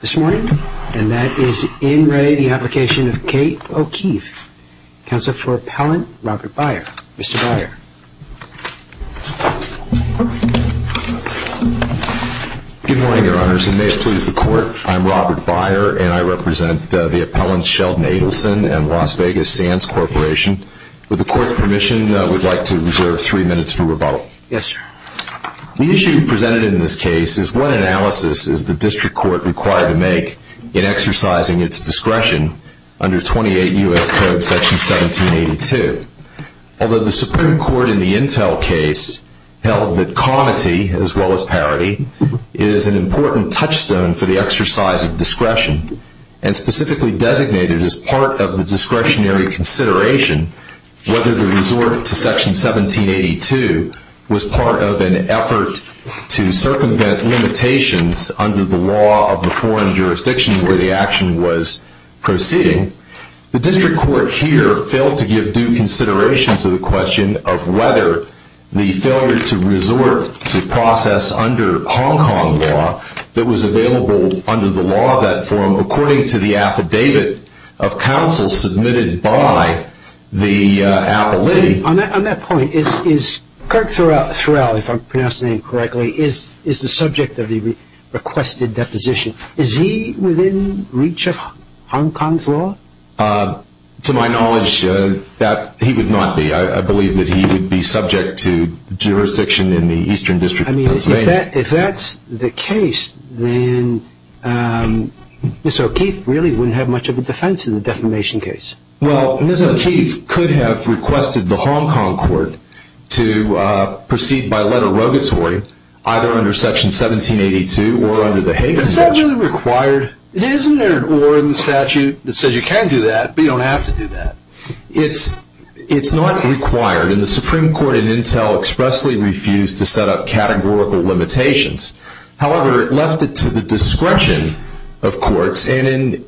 Counsel for Appellant Robert Beier. Mr. Beier. Good morning, Your Honors, and may it please the Court. I'm Robert Beier, and I represent the appellants Sheldon Adelson and Las Vegas Sands Corporation. With the Court's permission, we'd like to reserve three minutes for rebuttal. Yes, sir. The issue presented in this case is one analysis as the District Court requires the District Court to review the application of Kate O'Keeffe. It's the first decision the District Court has made to the Court, and it's the first decision the District Court has tried to make in exercising its discretion under 28 U.S. Code Section 1782. Although the Supreme Court in the Intel case held that comity, as well as parity, is an important touchstone for the exercise of discretion, and specifically designated as part of the discretionary consideration whether the resort to Section 1782 was part of an effort to circumvent limitations under the law of the foreign jurisdiction where the action was proceeding, the District Court here failed to give due consideration to the question of whether the failure to resort to process under Hong Kong law that was available under the law of that forum, according to the affidavit of counsel submitted by the appellate. On that point, is Kirk Thorell, if I'm pronouncing it correctly, is the subject of the requested deposition? Is he within reach of Hong Kong's law? To my knowledge, he would not be. I believe that he would be subject to jurisdiction in the Eastern District of Pennsylvania. If that's the case, then Ms. O'Keeffe really wouldn't have much of a defense in the defamation case. Well, Ms. O'Keeffe could have requested the Hong Kong court to proceed by letter rogatory, either under Section 1782 or under the Hague Act. Isn't there an order in the statute that says you can do that, but you don't have to do that? It's not required, and the Supreme Court in Intel expressly refused to set up categorical limitations. However, it left it to the discretion of courts, and in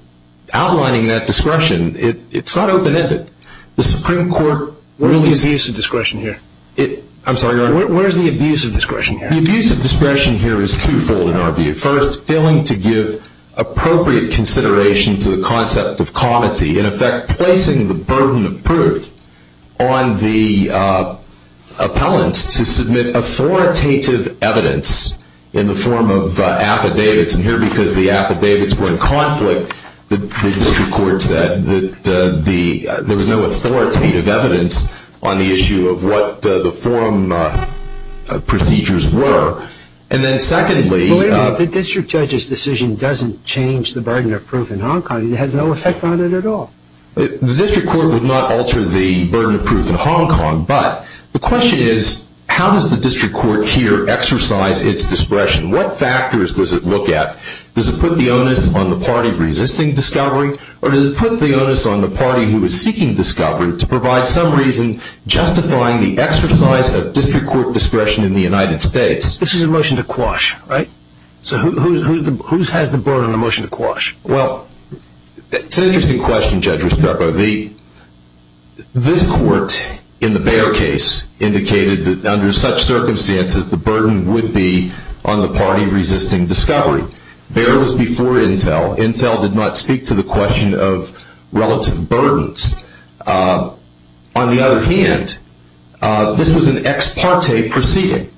outlining that discretion, it's not open-ended. Where's the abuse of discretion here? The abuse of discretion here is twofold, in our view. First, failing to give appropriate consideration to the concept of comity, in effect placing the burden of proof on the appellant to submit authoritative evidence in the form of affidavits. And here, because the affidavits were in conflict, the district court said that there was no authoritative evidence on the issue of what the forum procedures were. The district judge's decision doesn't change the burden of proof in Hong Kong. It has no effect on it at all. The district court would not alter the burden of proof in Hong Kong, but the question is, how does the district court here exercise its discretion? What factors does it look at? Does it put the onus on the party resisting discovery? Or does it put the onus on the party who is seeking discovery to provide some reason justifying the exercise of district court discretion in the United States? This is a motion to quash, right? So who has the burden on the motion to quash? Well, it's an interesting question, Judge Risparo. This court, in the Baer case, indicated that under such circumstances, the burden would be on the party resisting discovery. Baer was before Intel. Intel did not speak to the question of relative burdens. On the other hand, this was an ex parte proceeding,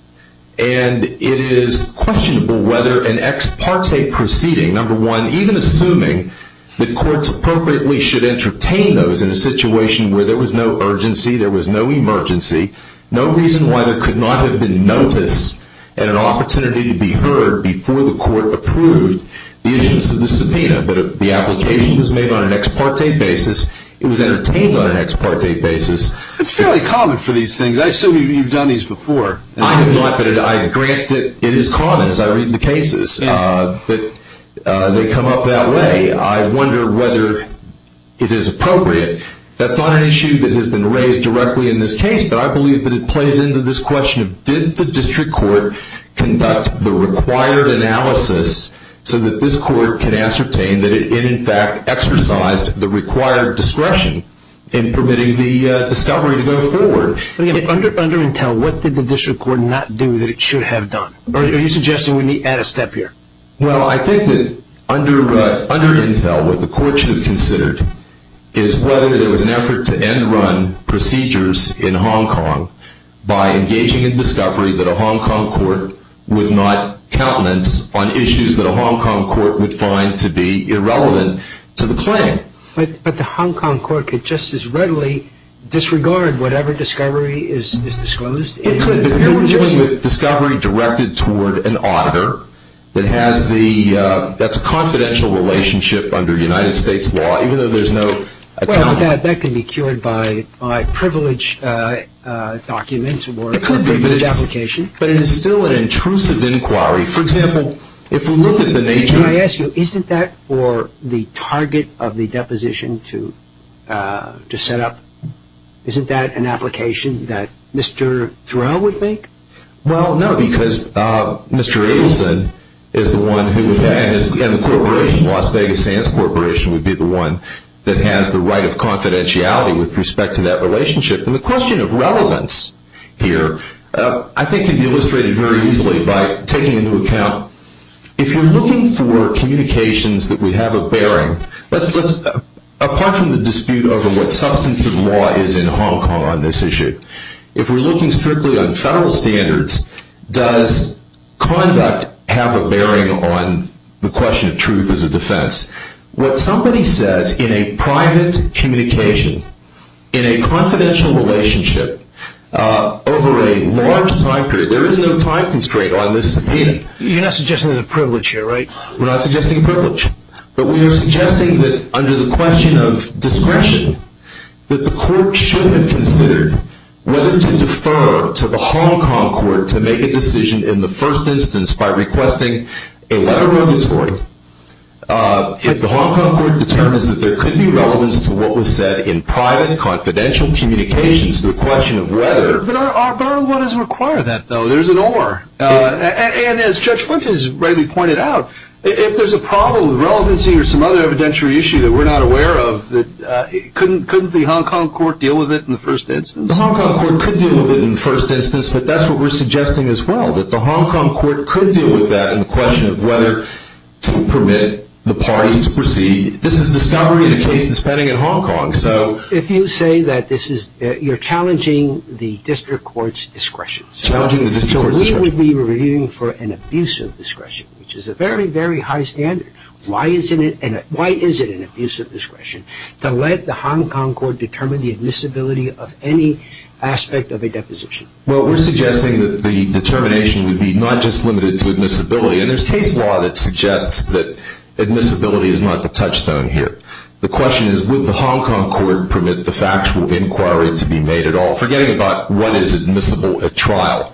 and it is questionable whether an ex parte proceeding, number one, even assuming that courts appropriately should entertain those in a situation where there was no urgency, there was no emergency, no reason why there could not have been notice and an opportunity to be heard before the court approved the issuance of the subpoena, but the application was made on an ex parte basis. It was entertained on an ex parte basis. It's fairly common for these things. I assume you've done these before. I have not, but I grant that it is common as I read the cases that they come up that way. I wonder whether it is appropriate. That's not an issue that has been raised directly in this case, but I believe that it plays into this question of did the district court conduct the required analysis so that this court can ascertain that it in fact exercised the required discretion in permitting the discovery to go forward. Under Intel, what did the district court not do that it should have done? Are you suggesting we need to add a step here? Well, I think that under Intel, what the court should have considered is whether there was an effort to end run procedures in Hong Kong by engaging in discovery that a Hong Kong court would not countenance on issues that a Hong Kong court would find to be irrelevant to the claim. But the Hong Kong court could just as readily disregard whatever discovery is disclosed. It could be a discovery directed toward an auditor that's a confidential relationship under United States law. Well, that can be cured by privilege documents or a privilege application. But it is still an intrusive inquiry. For example, if we look at the nature... Can I ask you, isn't that for the target of the deposition to set up? Isn't that an application that Mr. Thurow would make? Well, no, because Mr. Abelson and the corporation, Las Vegas Sands Corporation, would be the one that has the right of confidentiality with respect to that relationship. And the question of relevance here I think can be illustrated very easily by taking into account if you're looking for communications that would have a bearing, apart from the dispute over what substantive law is in Hong Kong on this issue, if we're looking strictly on federal standards, does conduct have a bearing on the question of truth as a defense? What somebody says in a private communication, in a confidential relationship, over a large time period, there is no time constraint on this subpoena. You're not suggesting there's a privilege here, right? We're not suggesting a privilege. But we are suggesting that under the question of discretion, that the court should have considered whether to defer to the Hong Kong court to make a decision in the first instance by requesting a letter of mandatory if the Hong Kong court determines that there could be relevance to what was said in private, confidential communications to the question of whether... But our borrowed money doesn't require that, though. There's an or. And as Judge Flint has rightly pointed out, if there's a problem with relevancy or some other evidentiary issue that we're not aware of, couldn't the Hong Kong court deal with it in the first instance? The Hong Kong court could deal with it in the first instance, but that's what we're suggesting as well, that the Hong Kong court could deal with that in the question of whether to permit the parties to proceed. This is discovery in a case that's pending in Hong Kong. If you say that you're challenging the district court's discretion... You should be reviewing for an abuse of discretion, which is a very, very high standard. Why is it an abuse of discretion to let the Hong Kong court determine the admissibility of any aspect of a deposition? Well, we're suggesting that the determination would be not just limited to admissibility, and there's case law that suggests that admissibility is not the touchstone here. The question is, would the Hong Kong court permit the factual inquiry to be made at all, forgetting about what is admissible at trial?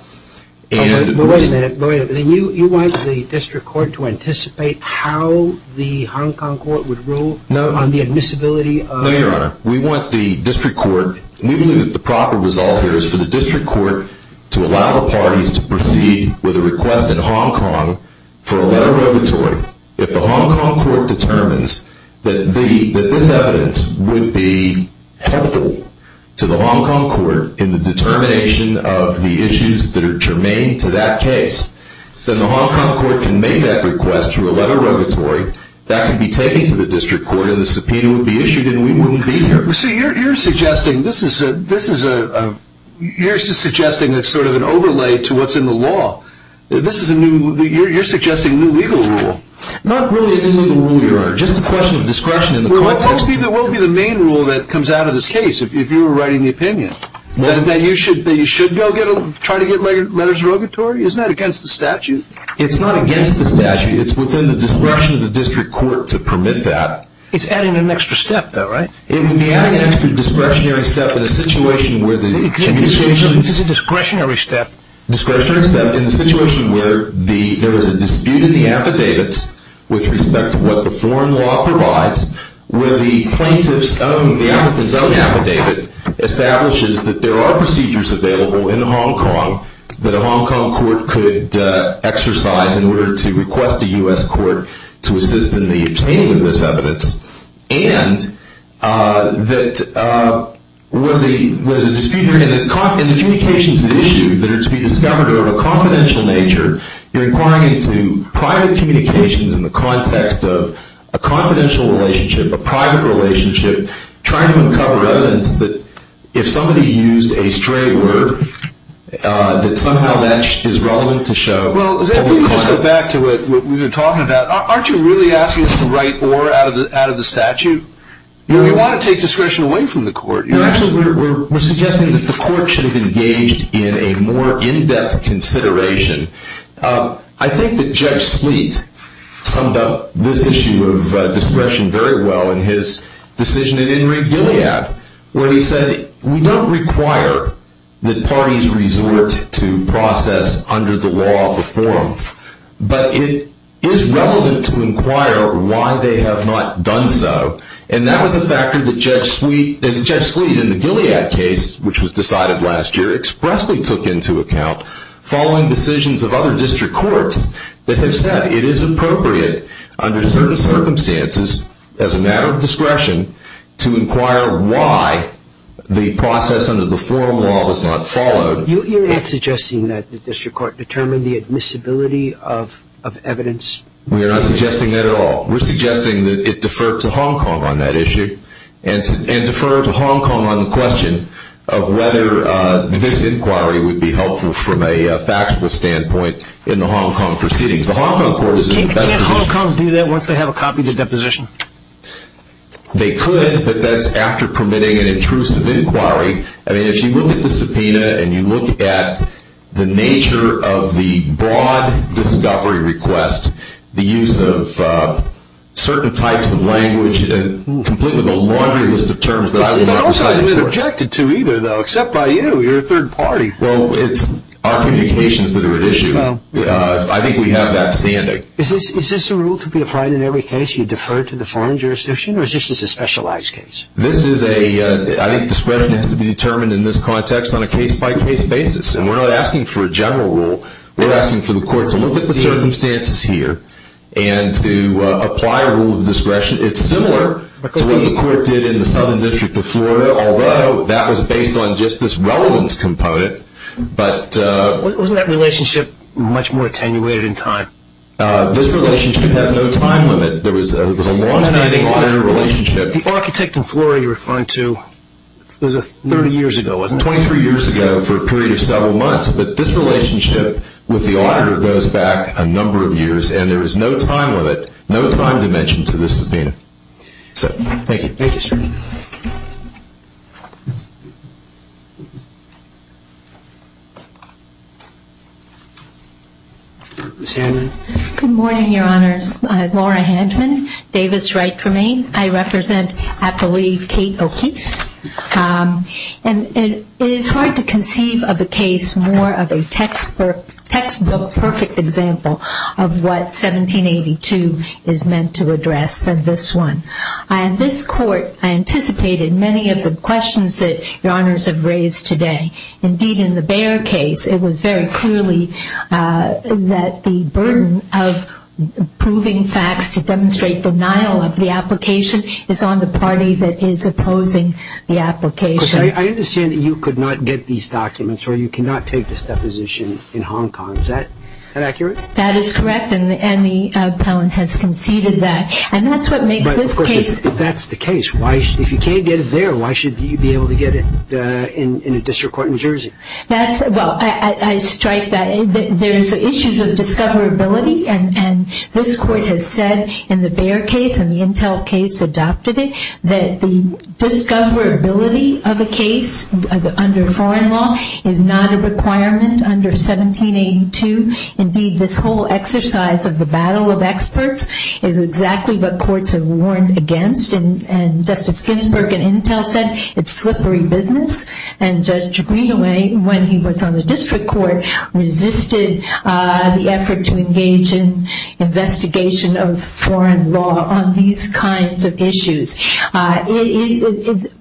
Wait a minute. You want the district court to anticipate how the Hong Kong court would rule on the admissibility of... No, Your Honor. We want the district court, and we believe that the proper result here is for the district court to allow the parties to proceed with a request in Hong Kong for a letter of inventory If the Hong Kong court determines that this evidence would be helpful to the Hong Kong court in the determination of the issues that are germane to that case, then the Hong Kong court can make that request through a letter of inventory that can be taken to the district court, and the subpoena would be issued, and we wouldn't be here. So you're suggesting that this is sort of an overlay to what's in the law. You're suggesting a new legal rule. Not really a new legal rule, Your Honor. Just a question of discretion. Well, it tells me that it will be the main rule that comes out of this case, if you were writing the opinion. That you should go try to get letters of regulatory? Isn't that against the statute? It's not against the statute. It's within the discretion of the district court to permit that. It's adding an extra step, though, right? It would be adding an extra discretionary step in a situation where the... It's a discretionary step. Discretionary step in a situation where there is a dispute in the affidavit with respect to what the foreign law provides, where the plaintiff's own, the applicant's own affidavit establishes that there are procedures available in Hong Kong that a Hong Kong court could exercise in order to request a U.S. court to assist in the obtaining of this evidence, and that where there's a dispute in the communications issue, that it's to be discovered over a confidential nature, you're inquiring into private communications in the context of a confidential relationship, a private relationship, trying to uncover evidence that if somebody used a stray word, that somehow that is relevant to show... Well, if we just go back to what we were talking about, aren't you really asking us to write or out of the statute? You want to take discretion away from the court. Actually, we're suggesting that the court should have engaged in a more in-depth consideration. I think that Judge Sleet summed up this issue of discretion very well in his decision in In Re Gilead, where he said, we don't require that parties resort to process under the law of the forum, but it is relevant to inquire why they have not done so, and that was a factor that Judge Sleet in the Gilead case, which was decided last year, expressly took into account following decisions of other district courts that have said it is appropriate under certain circumstances as a matter of discretion to inquire why the process under the forum law was not followed. You're not suggesting that the district court determined the admissibility of evidence? We're not suggesting that at all. We're suggesting that it deferred to Hong Kong on that issue, and deferred to Hong Kong on the question of whether this inquiry would be helpful from a factual standpoint in the Hong Kong proceedings. The Hong Kong court is... Can't Hong Kong do that once they have a copy of the deposition? They could, but that's after permitting an intrusive inquiry. I mean, if you look at the subpoena and you look at the nature of the broad discovery request, the use of certain types of language, and completely the laundry list of terms that I was not presiding over... That's not what I've been objected to either, though, except by you. You're a third party. Well, it's our communications that are at issue. I think we have that standing. Is this a rule to be applied in every case? You defer to the foreign jurisdiction, or is this just a specialized case? This is a... I think discretion has to be determined in this context on a case-by-case basis, and we're not asking for a general rule. We're asking for the court to look at the circumstances here, and to apply a rule of discretion. It's similar to what the court did in the Southern District of Florida, although that was based on just this relevance component, but... Wasn't that relationship much more attenuated in time? This relationship has no time limit. It was a longstanding, modern relationship. The architect in Florida you're referring to was 30 years ago, wasn't it? Twenty-three years ago for a period of several months, but this relationship with the auditor goes back a number of years, and there is no time limit, no time dimension to this subpoena. Thank you. Thank you, sir. Ms. Handman. Good morning, Your Honors. My name is Laura Handman, Davis' right to remain. I represent, I believe, Kate O'Keefe, and it is hard to conceive of a case more of a textbook perfect example of what 1782 is meant to address than this one. In this court, I anticipated many of the questions that Your Honors have raised today. Indeed, in the Bair case, it was very clearly that the burden of proving facts to demonstrate denial of the application is on the party that is opposing the application. Because I understand that you could not get these documents or you cannot take this deposition in Hong Kong. Is that accurate? That is correct, and the appellant has conceded that, and that's what makes this case... But, of course, if that's the case, if you can't get it there, why should you be able to get it in a district court in New Jersey? Well, I strike that there's issues of discoverability, and this court has said in the Bair case and the Intel case adopted it that the discoverability of a case under foreign law is not a requirement under 1782. Indeed, this whole exercise of the battle of experts is exactly what courts have warned against, and Justice Ginsburg in Intel said it's slippery business, and Judge Greenaway, when he was on the district court, resisted the effort to engage in investigation of foreign law on these kinds of issues.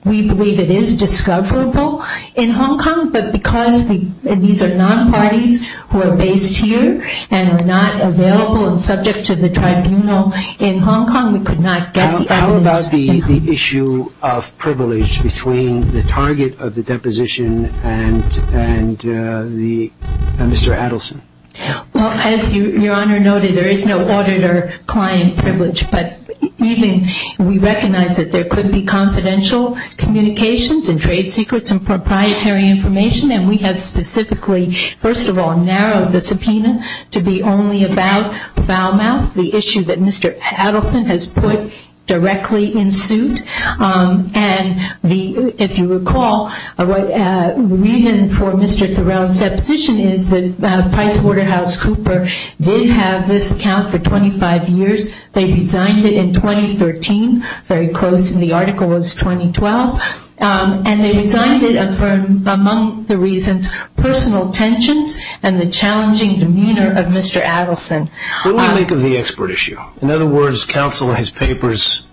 We believe it is discoverable in Hong Kong, but because these are non-parties who are based here and are not available and subject to the tribunal in Hong Kong, we could not get the evidence in Hong Kong. The issue of privilege between the target of the deposition and Mr. Adelson. Well, as Your Honor noted, there is no auditor-client privilege, but even we recognize that there could be confidential communications and trade secrets and proprietary information, and we have specifically, first of all, narrowed the subpoena to be only about foul mouth. The issue that Mr. Adelson has put directly in suit, and if you recall, the reason for Mr. Thurow's deposition is that Price Waterhouse Cooper did have this account for 25 years. They resigned it in 2013, very close, and the article was 2012, and they resigned it for among the reasons personal tensions and the challenging demeanor of Mr. Adelson. What do we make of the expert issue? In other words, counsel in his papers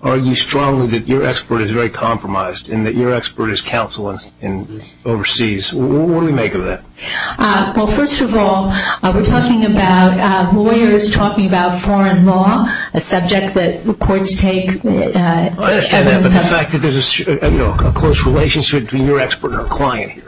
argue strongly that your expert is very compromised and that your expert is counseling overseas. What do we make of that? Well, first of all, we're talking about lawyers talking about foreign law, a subject that the courts take... I understand that, but the fact that there's a close relationship between your expert and our client here.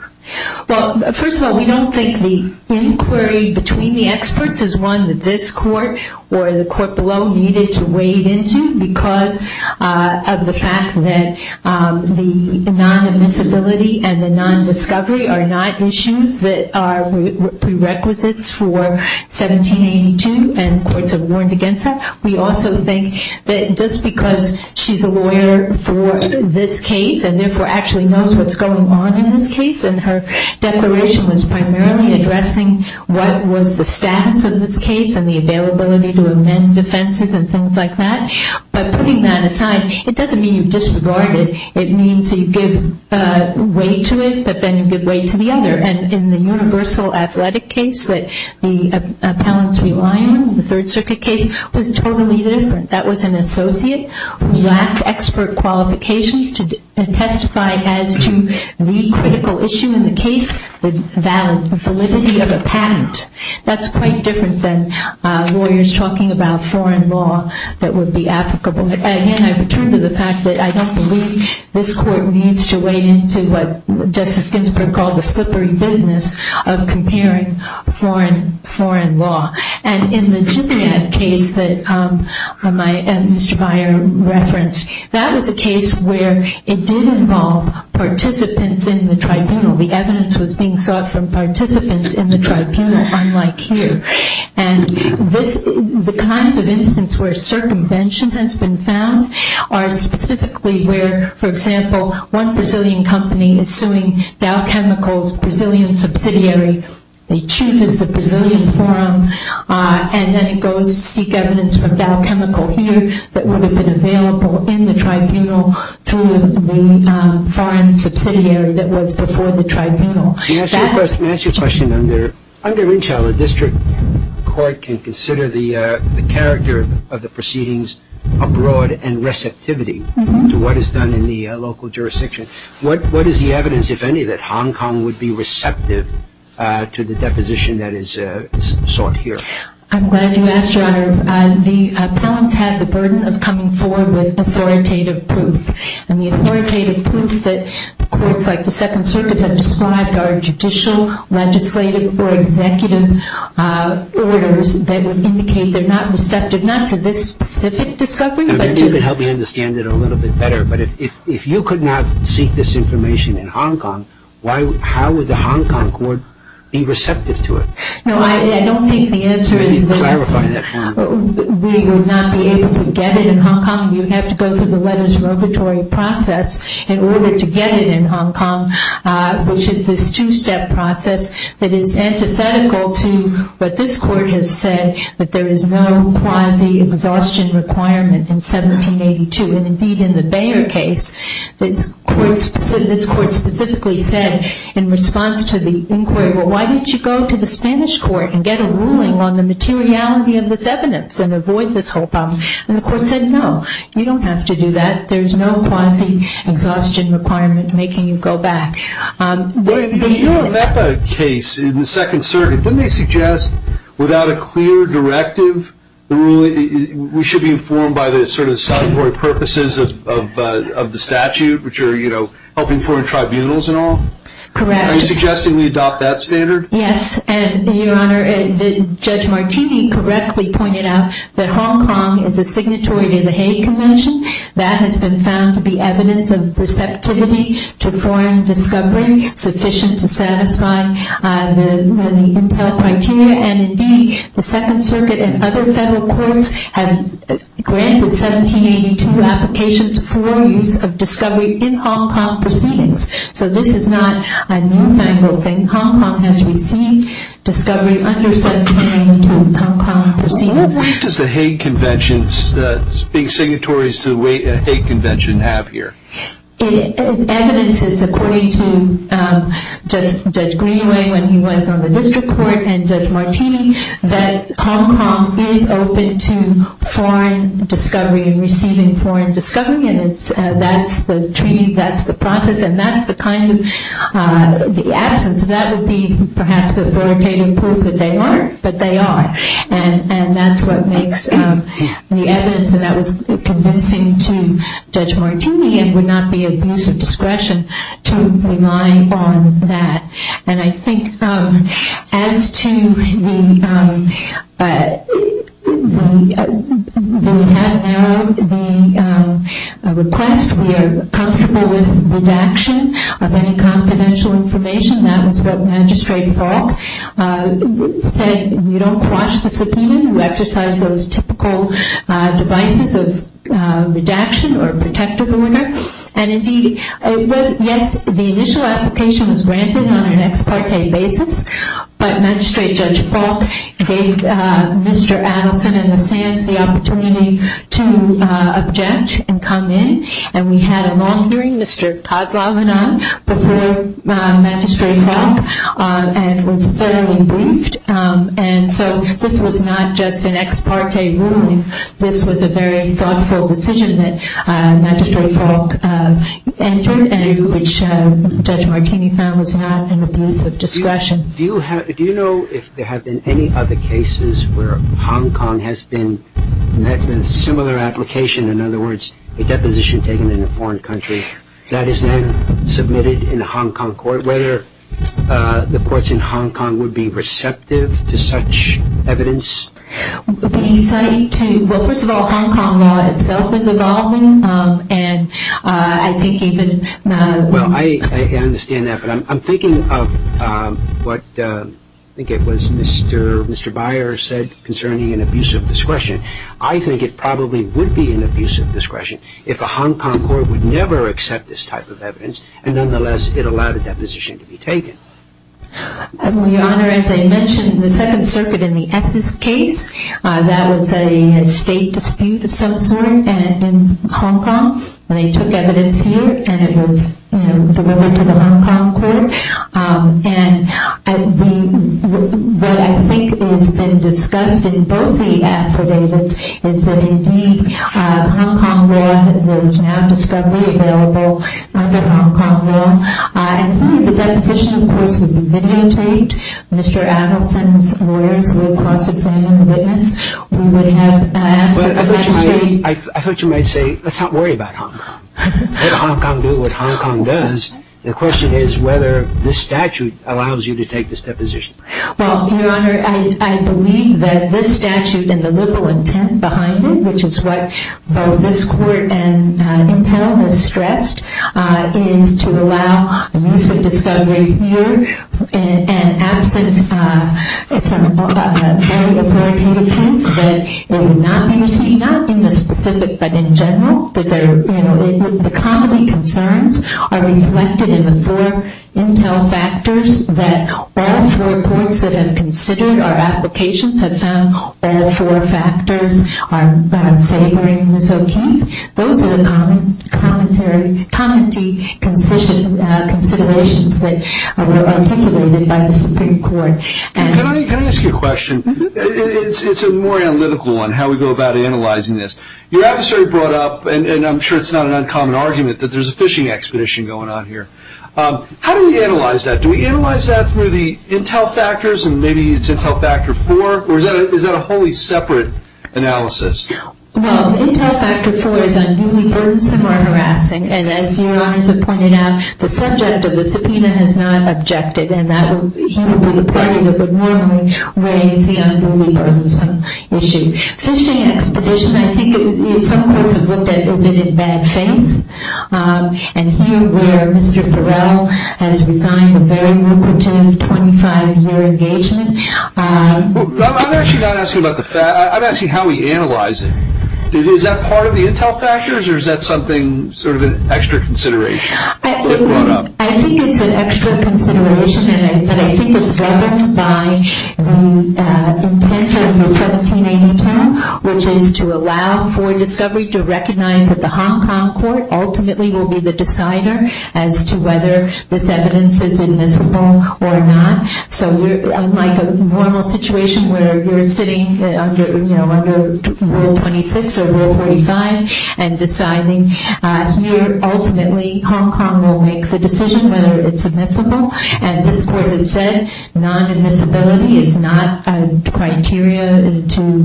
Well, first of all, we don't think the inquiry between the experts is one that this court or the court below needed to wade into because of the fact that the non-admissibility and the non-discovery are not issues that are prerequisites for 1782, and courts have warned against that. We also think that just because she's a lawyer for this case and therefore actually knows what's going on in this case and her declaration was primarily addressing what was the status of this case and the availability to amend defenses and things like that. But putting that aside, it doesn't mean you disregard it. It means that you give way to it, but then you give way to the other. And in the universal athletic case that the appellants rely on, the Third Circuit case, was totally different. That was an associate who lacked expert qualifications to testify as to the critical issue in the case, the validity of a patent. That's quite different than lawyers talking about foreign law that would be applicable. Again, I return to the fact that I don't believe this court needs to wade into what Justice Ginsburg called the slippery business of comparing foreign law. And in the Jibriyat case that Mr. Beyer referenced, that was a case where it did involve participants in the tribunal. The evidence was being sought from participants in the tribunal, unlike here. And the kinds of instances where circumvention has been found are specifically where, for example, one Brazilian company is suing Dow Chemicals, a Brazilian subsidiary. They choose as the Brazilian forum. And then it goes to seek evidence from Dow Chemical here that would have been available in the tribunal through the foreign subsidiary that was before the tribunal. May I ask you a question? Under Inchel, a district court can consider the character of the proceedings abroad and receptivity to what is done in the local jurisdiction. What is the evidence, if any, that Hong Kong would be receptive to the deposition that is sought here? I'm glad you asked, Your Honor. The appellants have the burden of coming forward with authoritative proof. And the authoritative proof that courts like the Second Circuit have described are judicial, legislative, or executive orders that would indicate they're not receptive not to this specific discovery, but to You can help me understand it a little bit better. But if you could not seek this information in Hong Kong, how would the Hong Kong court be receptive to it? No, I don't think the answer is that we will not be able to get it in Hong Kong. You'd have to go through the letters of regulatory process in order to get it in Hong Kong, which is this two-step process that is antithetical to what this court has said, that there is no quasi-exhaustion requirement in 1782. And, indeed, in the Bayer case, this court specifically said in response to the inquiry, well, why don't you go to the Spanish court and get a ruling on the materiality of this evidence and avoid this whole problem? And the court said, no, you don't have to do that. There's no quasi-exhaustion requirement making you go back. In your Mecca case in the Second Circuit, didn't they suggest without a clear directive, we should be informed by the sort of statutory purposes of the statute, which are, you know, helping foreign tribunals and all? Correct. Are you suggesting we adopt that standard? Yes, and, Your Honor, Judge Martini correctly pointed out that Hong Kong is a signatory to the Hague Convention. That has been found to be evidence of receptivity to foreign discovery sufficient to satisfy the Intel criteria. And, indeed, the Second Circuit and other federal courts have granted 1782 applications for use of discovery in Hong Kong proceedings. So this is not a newfangled thing. Hong Kong has received discovery under 1782 Hong Kong proceedings. What does the Hague Convention's being signatories to the Hague Convention have here? Evidence is, according to Judge Greenway when he was on the district court and Judge Martini, that Hong Kong is open to foreign discovery and receiving foreign discovery, and that's the treaty, that's the process, and that's the kind of absence. That would be, perhaps, authoritative proof that they aren't, but they are. And that's what makes the evidence, and that was convincing to Judge Martini. It would not be abuse of discretion to rely on that. And I think as to the request, we are comfortable with redaction of any confidential information. That was what Magistrate Falk said. You don't quash the subpoena. We exercise those typical devices of redaction or protective order. And indeed, yes, the initial application was granted on an ex parte basis, but Magistrate Judge Falk gave Mr. Adelson and the SANS the opportunity to object and come in, and we had a long hearing, Mr. Kozlov and I, before Magistrate Falk, and it was thoroughly briefed. And so this was not just an ex parte ruling. This was a very thoughtful decision that Magistrate Falk entered, which Judge Martini found was not an abuse of discretion. Do you know if there have been any other cases where Hong Kong has been met with similar application, in other words, a deposition taken in a foreign country, that is then submitted in a Hong Kong court, whether the courts in Hong Kong would be receptive to such evidence? Well, first of all, Hong Kong law itself is evolving, and I think even... Well, I understand that, but I'm thinking of what I think it was Mr. Byers said concerning an abuse of discretion. I think it probably would be an abuse of discretion if a Hong Kong court would never accept this type of evidence, and nonetheless, it allowed a deposition to be taken. Your Honor, as I mentioned, the Second Circuit in the Essex case, that was a state dispute of some sort in Hong Kong, and they took evidence here, and it was delivered to the Hong Kong court. And what I think has been discussed in both the affidavits is that indeed Hong Kong law, there is now discovery available under Hong Kong law. And the deposition, of course, would be videotaped. Mr. Adelson's lawyers would cross-examine the witness. We would have asked the magistrate... I thought you might say, let's not worry about Hong Kong. Let Hong Kong do what Hong Kong does. The question is whether this statute allows you to take this deposition. Well, Your Honor, I believe that this statute and the liberal intent behind it, which is what both this court and Intel has stressed, is to allow the use of discovery here, and absent some early authoritative hints that it would not be used, not in the specific, but in general, that the common concerns are reflected in the four Intel factors that all four courts that have considered our applications have found all four factors are favoring Ms. O'Keefe. Those are the common considerations that were articulated by the Supreme Court. Can I ask you a question? It's a more analytical one, how we go about analyzing this. Your adversary brought up, and I'm sure it's not an uncommon argument, that there's a fishing expedition going on here. How do we analyze that? Do we analyze that through the Intel factors, and maybe it's Intel factor four, or is that a wholly separate analysis? Well, Intel factor four is unruly, burdensome, or harassing, and as Your Honors have pointed out, the subject of the subpoena has not objected, and he would be the party that would normally raise the unruly, burdensome issue. Fishing expedition, I think some courts have looked at, is it in bad faith? And here where Mr. Thorell has resigned a very lucrative 25-year engagement. I'm actually not asking about the fact. I'm asking how we analyze it. Is that part of the Intel factors, or is that something sort of an extra consideration that was brought up? I think it's an extra consideration, and I think it's governed by the intent of the 1780 term, which is to allow for discovery to recognize that the Hong Kong court ultimately will be the decider as to whether this evidence is admissible or not. So like a normal situation where you're sitting under Rule 26 or Rule 45 and deciding here ultimately Hong Kong will make the decision whether it's admissible, and this court has said non-admissibility is not a criteria to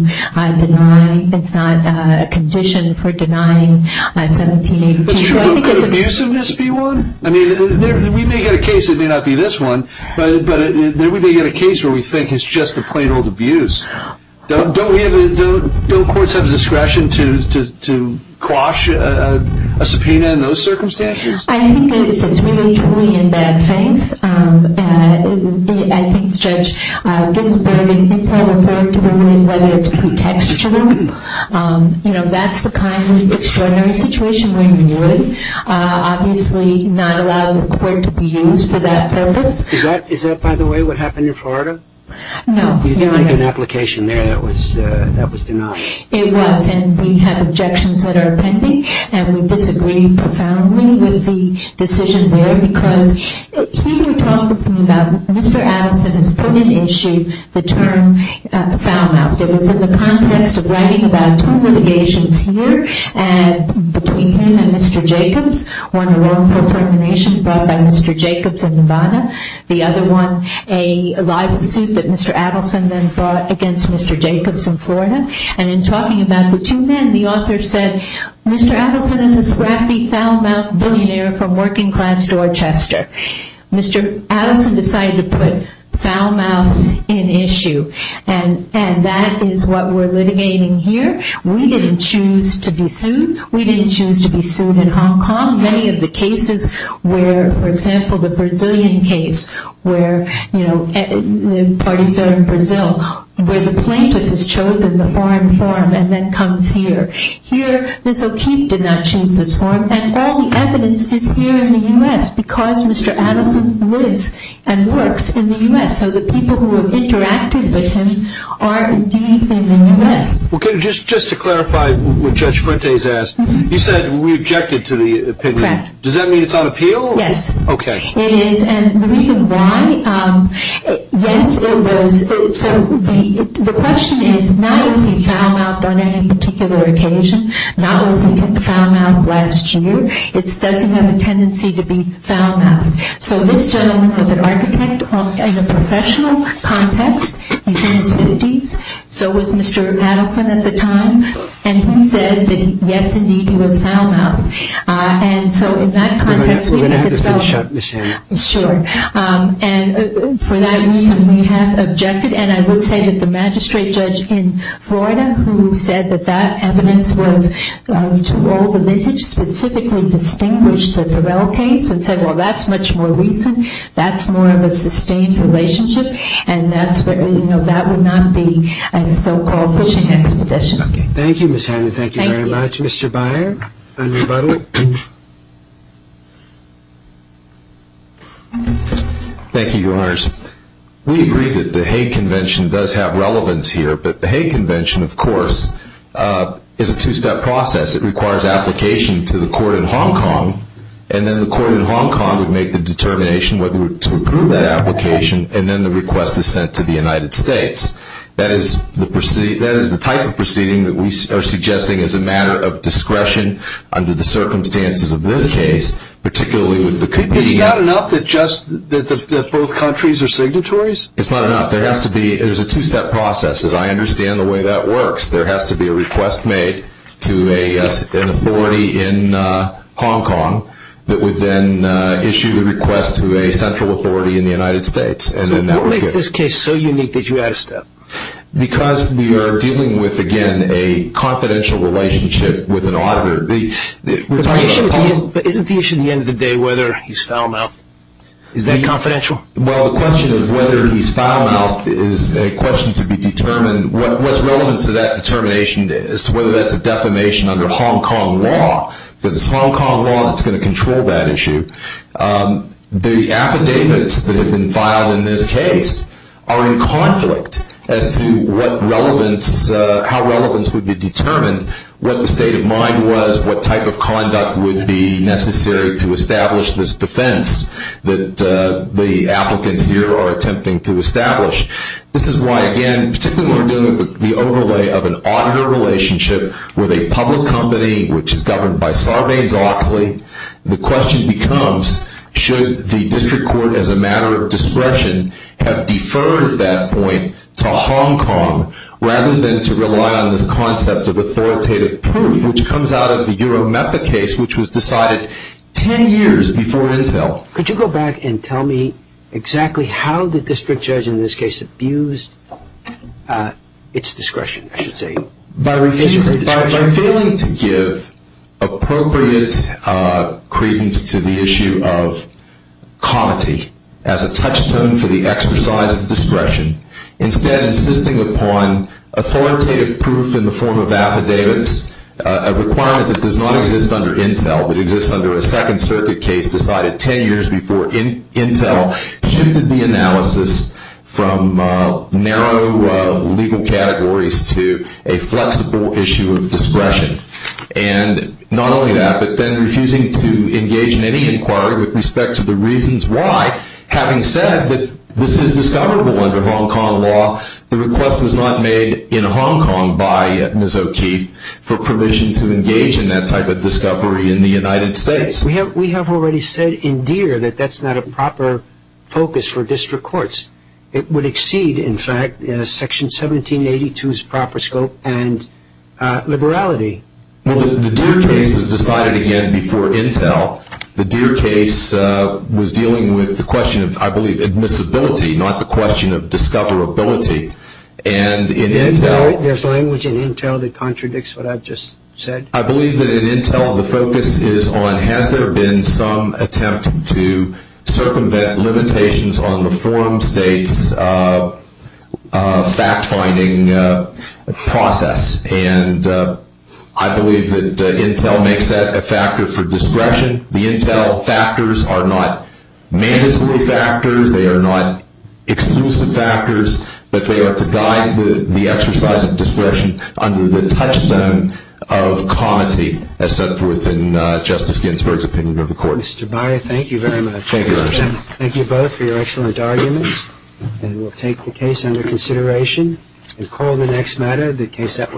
deny. It's not a condition for denying 1780. Could abusiveness be one? I mean, we may get a case that may not be this one, but we may get a case where we think it's just a plain old abuse. Don't courts have discretion to quash a subpoena in those circumstances? I think if it's really truly in bad faith, I think Judge Ginsburg and Intel have worked to determine whether it's contextual. You know, that's the kind of extraordinary situation where you would obviously not allow the court to be used for that purpose. Is that, by the way, what happened in Florida? No. You didn't make an application there that was denied. It was, and we have objections that are pending, and we disagree profoundly with the decision there because he would talk with me about Mr. Adelson has put in issue the term foul-mouthed. It was in the context of writing about two litigations here between him and Mr. Jacobs, one a wrongful termination brought by Mr. Jacobs in Nevada, the other one a libel suit that Mr. Adelson then brought against Mr. Jacobs in Florida, and in talking about the two men, the author said, Mr. Adelson is a scrappy foul-mouthed billionaire from working-class Dorchester. Mr. Adelson decided to put foul-mouthed in issue, and that is what we're litigating here. We didn't choose to be sued. We didn't choose to be sued in Hong Kong. Many of the cases where, for example, the Brazilian case where, you know, the parties are in Brazil where the plaintiff has chosen the foreign forum and then comes here. Here, Ms. O'Keefe did not choose this forum, and all the evidence is here in the U.S. because Mr. Adelson lives and works in the U.S., so the people who have interacted with him are indeed in the U.S. Okay, just to clarify what Judge Frentes asked, you said we objected to the opinion. Correct. Does that mean it's on appeal? Yes. Okay. It is, and the reason why, yes, it was. So the question is not is he foul-mouthed on any particular occasion, not was he foul-mouthed last year. It doesn't have a tendency to be foul-mouthed. So this gentleman was an architect in a professional context. He's in his 50s. So was Mr. Adelson at the time, and he said that, yes, indeed, he was foul-mouthed. And so in that context, we think it's foul-mouthed. Just to finish up, Ms. Hannon. Sure. And for that reason, we have objected. And I will say that the magistrate judge in Florida, who said that that evidence was to all the lineage, specifically distinguished the Farrell case and said, well, that's much more recent, that's more of a sustained relationship, and that would not be a so-called fishing expedition. Okay. Thank you, Ms. Hannon. Thank you very much. Mr. Byer on rebuttal. Thank you, Your Honors. We agree that the Hague Convention does have relevance here, but the Hague Convention, of course, is a two-step process. It requires application to the court in Hong Kong, and then the court in Hong Kong would make the determination whether to approve that application, and then the request is sent to the United States. That is the type of proceeding that we are suggesting as a matter of discretion under the circumstances of this case, particularly with the convening. It's not enough that both countries are signatories? It's not enough. There has to be a two-step process, as I understand the way that works. There has to be a request made to an authority in Hong Kong that would then issue the request to a central authority in the United States. So what makes this case so unique that you asked that? Because we are dealing with, again, a confidential relationship with an auditor. But isn't the issue at the end of the day whether he's foul-mouthed? Is that confidential? Well, the question of whether he's foul-mouthed is a question to be determined. What's relevant to that determination is whether that's a defamation under Hong Kong law, because it's Hong Kong law that's going to control that issue. The affidavits that have been filed in this case are in conflict as to how relevance would be determined, what the state of mind was, what type of conduct would be necessary to establish this defense that the applicants here are attempting to establish. This is why, again, particularly when we're dealing with the overlay of an auditor relationship with a public company which is governed by Sarbanes-Oxley, the question becomes should the district court, as a matter of discretion, have deferred that point to Hong Kong rather than to rely on this concept of authoritative proof, which comes out of the Eurometha case, which was decided 10 years before Intel. Could you go back and tell me exactly how the district judge in this case abused its discretion, I should say? By failing to give appropriate credence to the issue of comity as a touchstone for the exercise of discretion, instead insisting upon authoritative proof in the form of affidavits, a requirement that does not exist under Intel, but exists under a Second Circuit case decided 10 years before Intel, shifted the analysis from narrow legal categories to a flexible issue of discretion. And not only that, but then refusing to engage in any inquiry with respect to the reasons why, having said that this is discoverable under Hong Kong law, the request was not made in Hong Kong by Ms. O'Keefe for permission to engage in that type of discovery in the United States. We have already said in Deere that that's not a proper focus for district courts. It would exceed, in fact, Section 1782's proper scope and liberality. Well, the Deere case was decided again before Intel. The Deere case was dealing with the question of, I believe, admissibility, not the question of discoverability. And in Intel... There's language in Intel that contradicts what I've just said. I believe that in Intel the focus is on, has there been some attempt to circumvent limitations on the forum state's fact-finding process? And I believe that Intel makes that a factor for discretion. The Intel factors are not mandatory factors. They are not exclusive factors. But they are to guide the exercise of discretion under the touchstone of comity, as set forth in Justice Ginsburg's opinion of the court. Mr. Beyer, thank you very much. Thank you both for your excellent arguments. And we'll take the case under consideration and call the next matter, the case that was...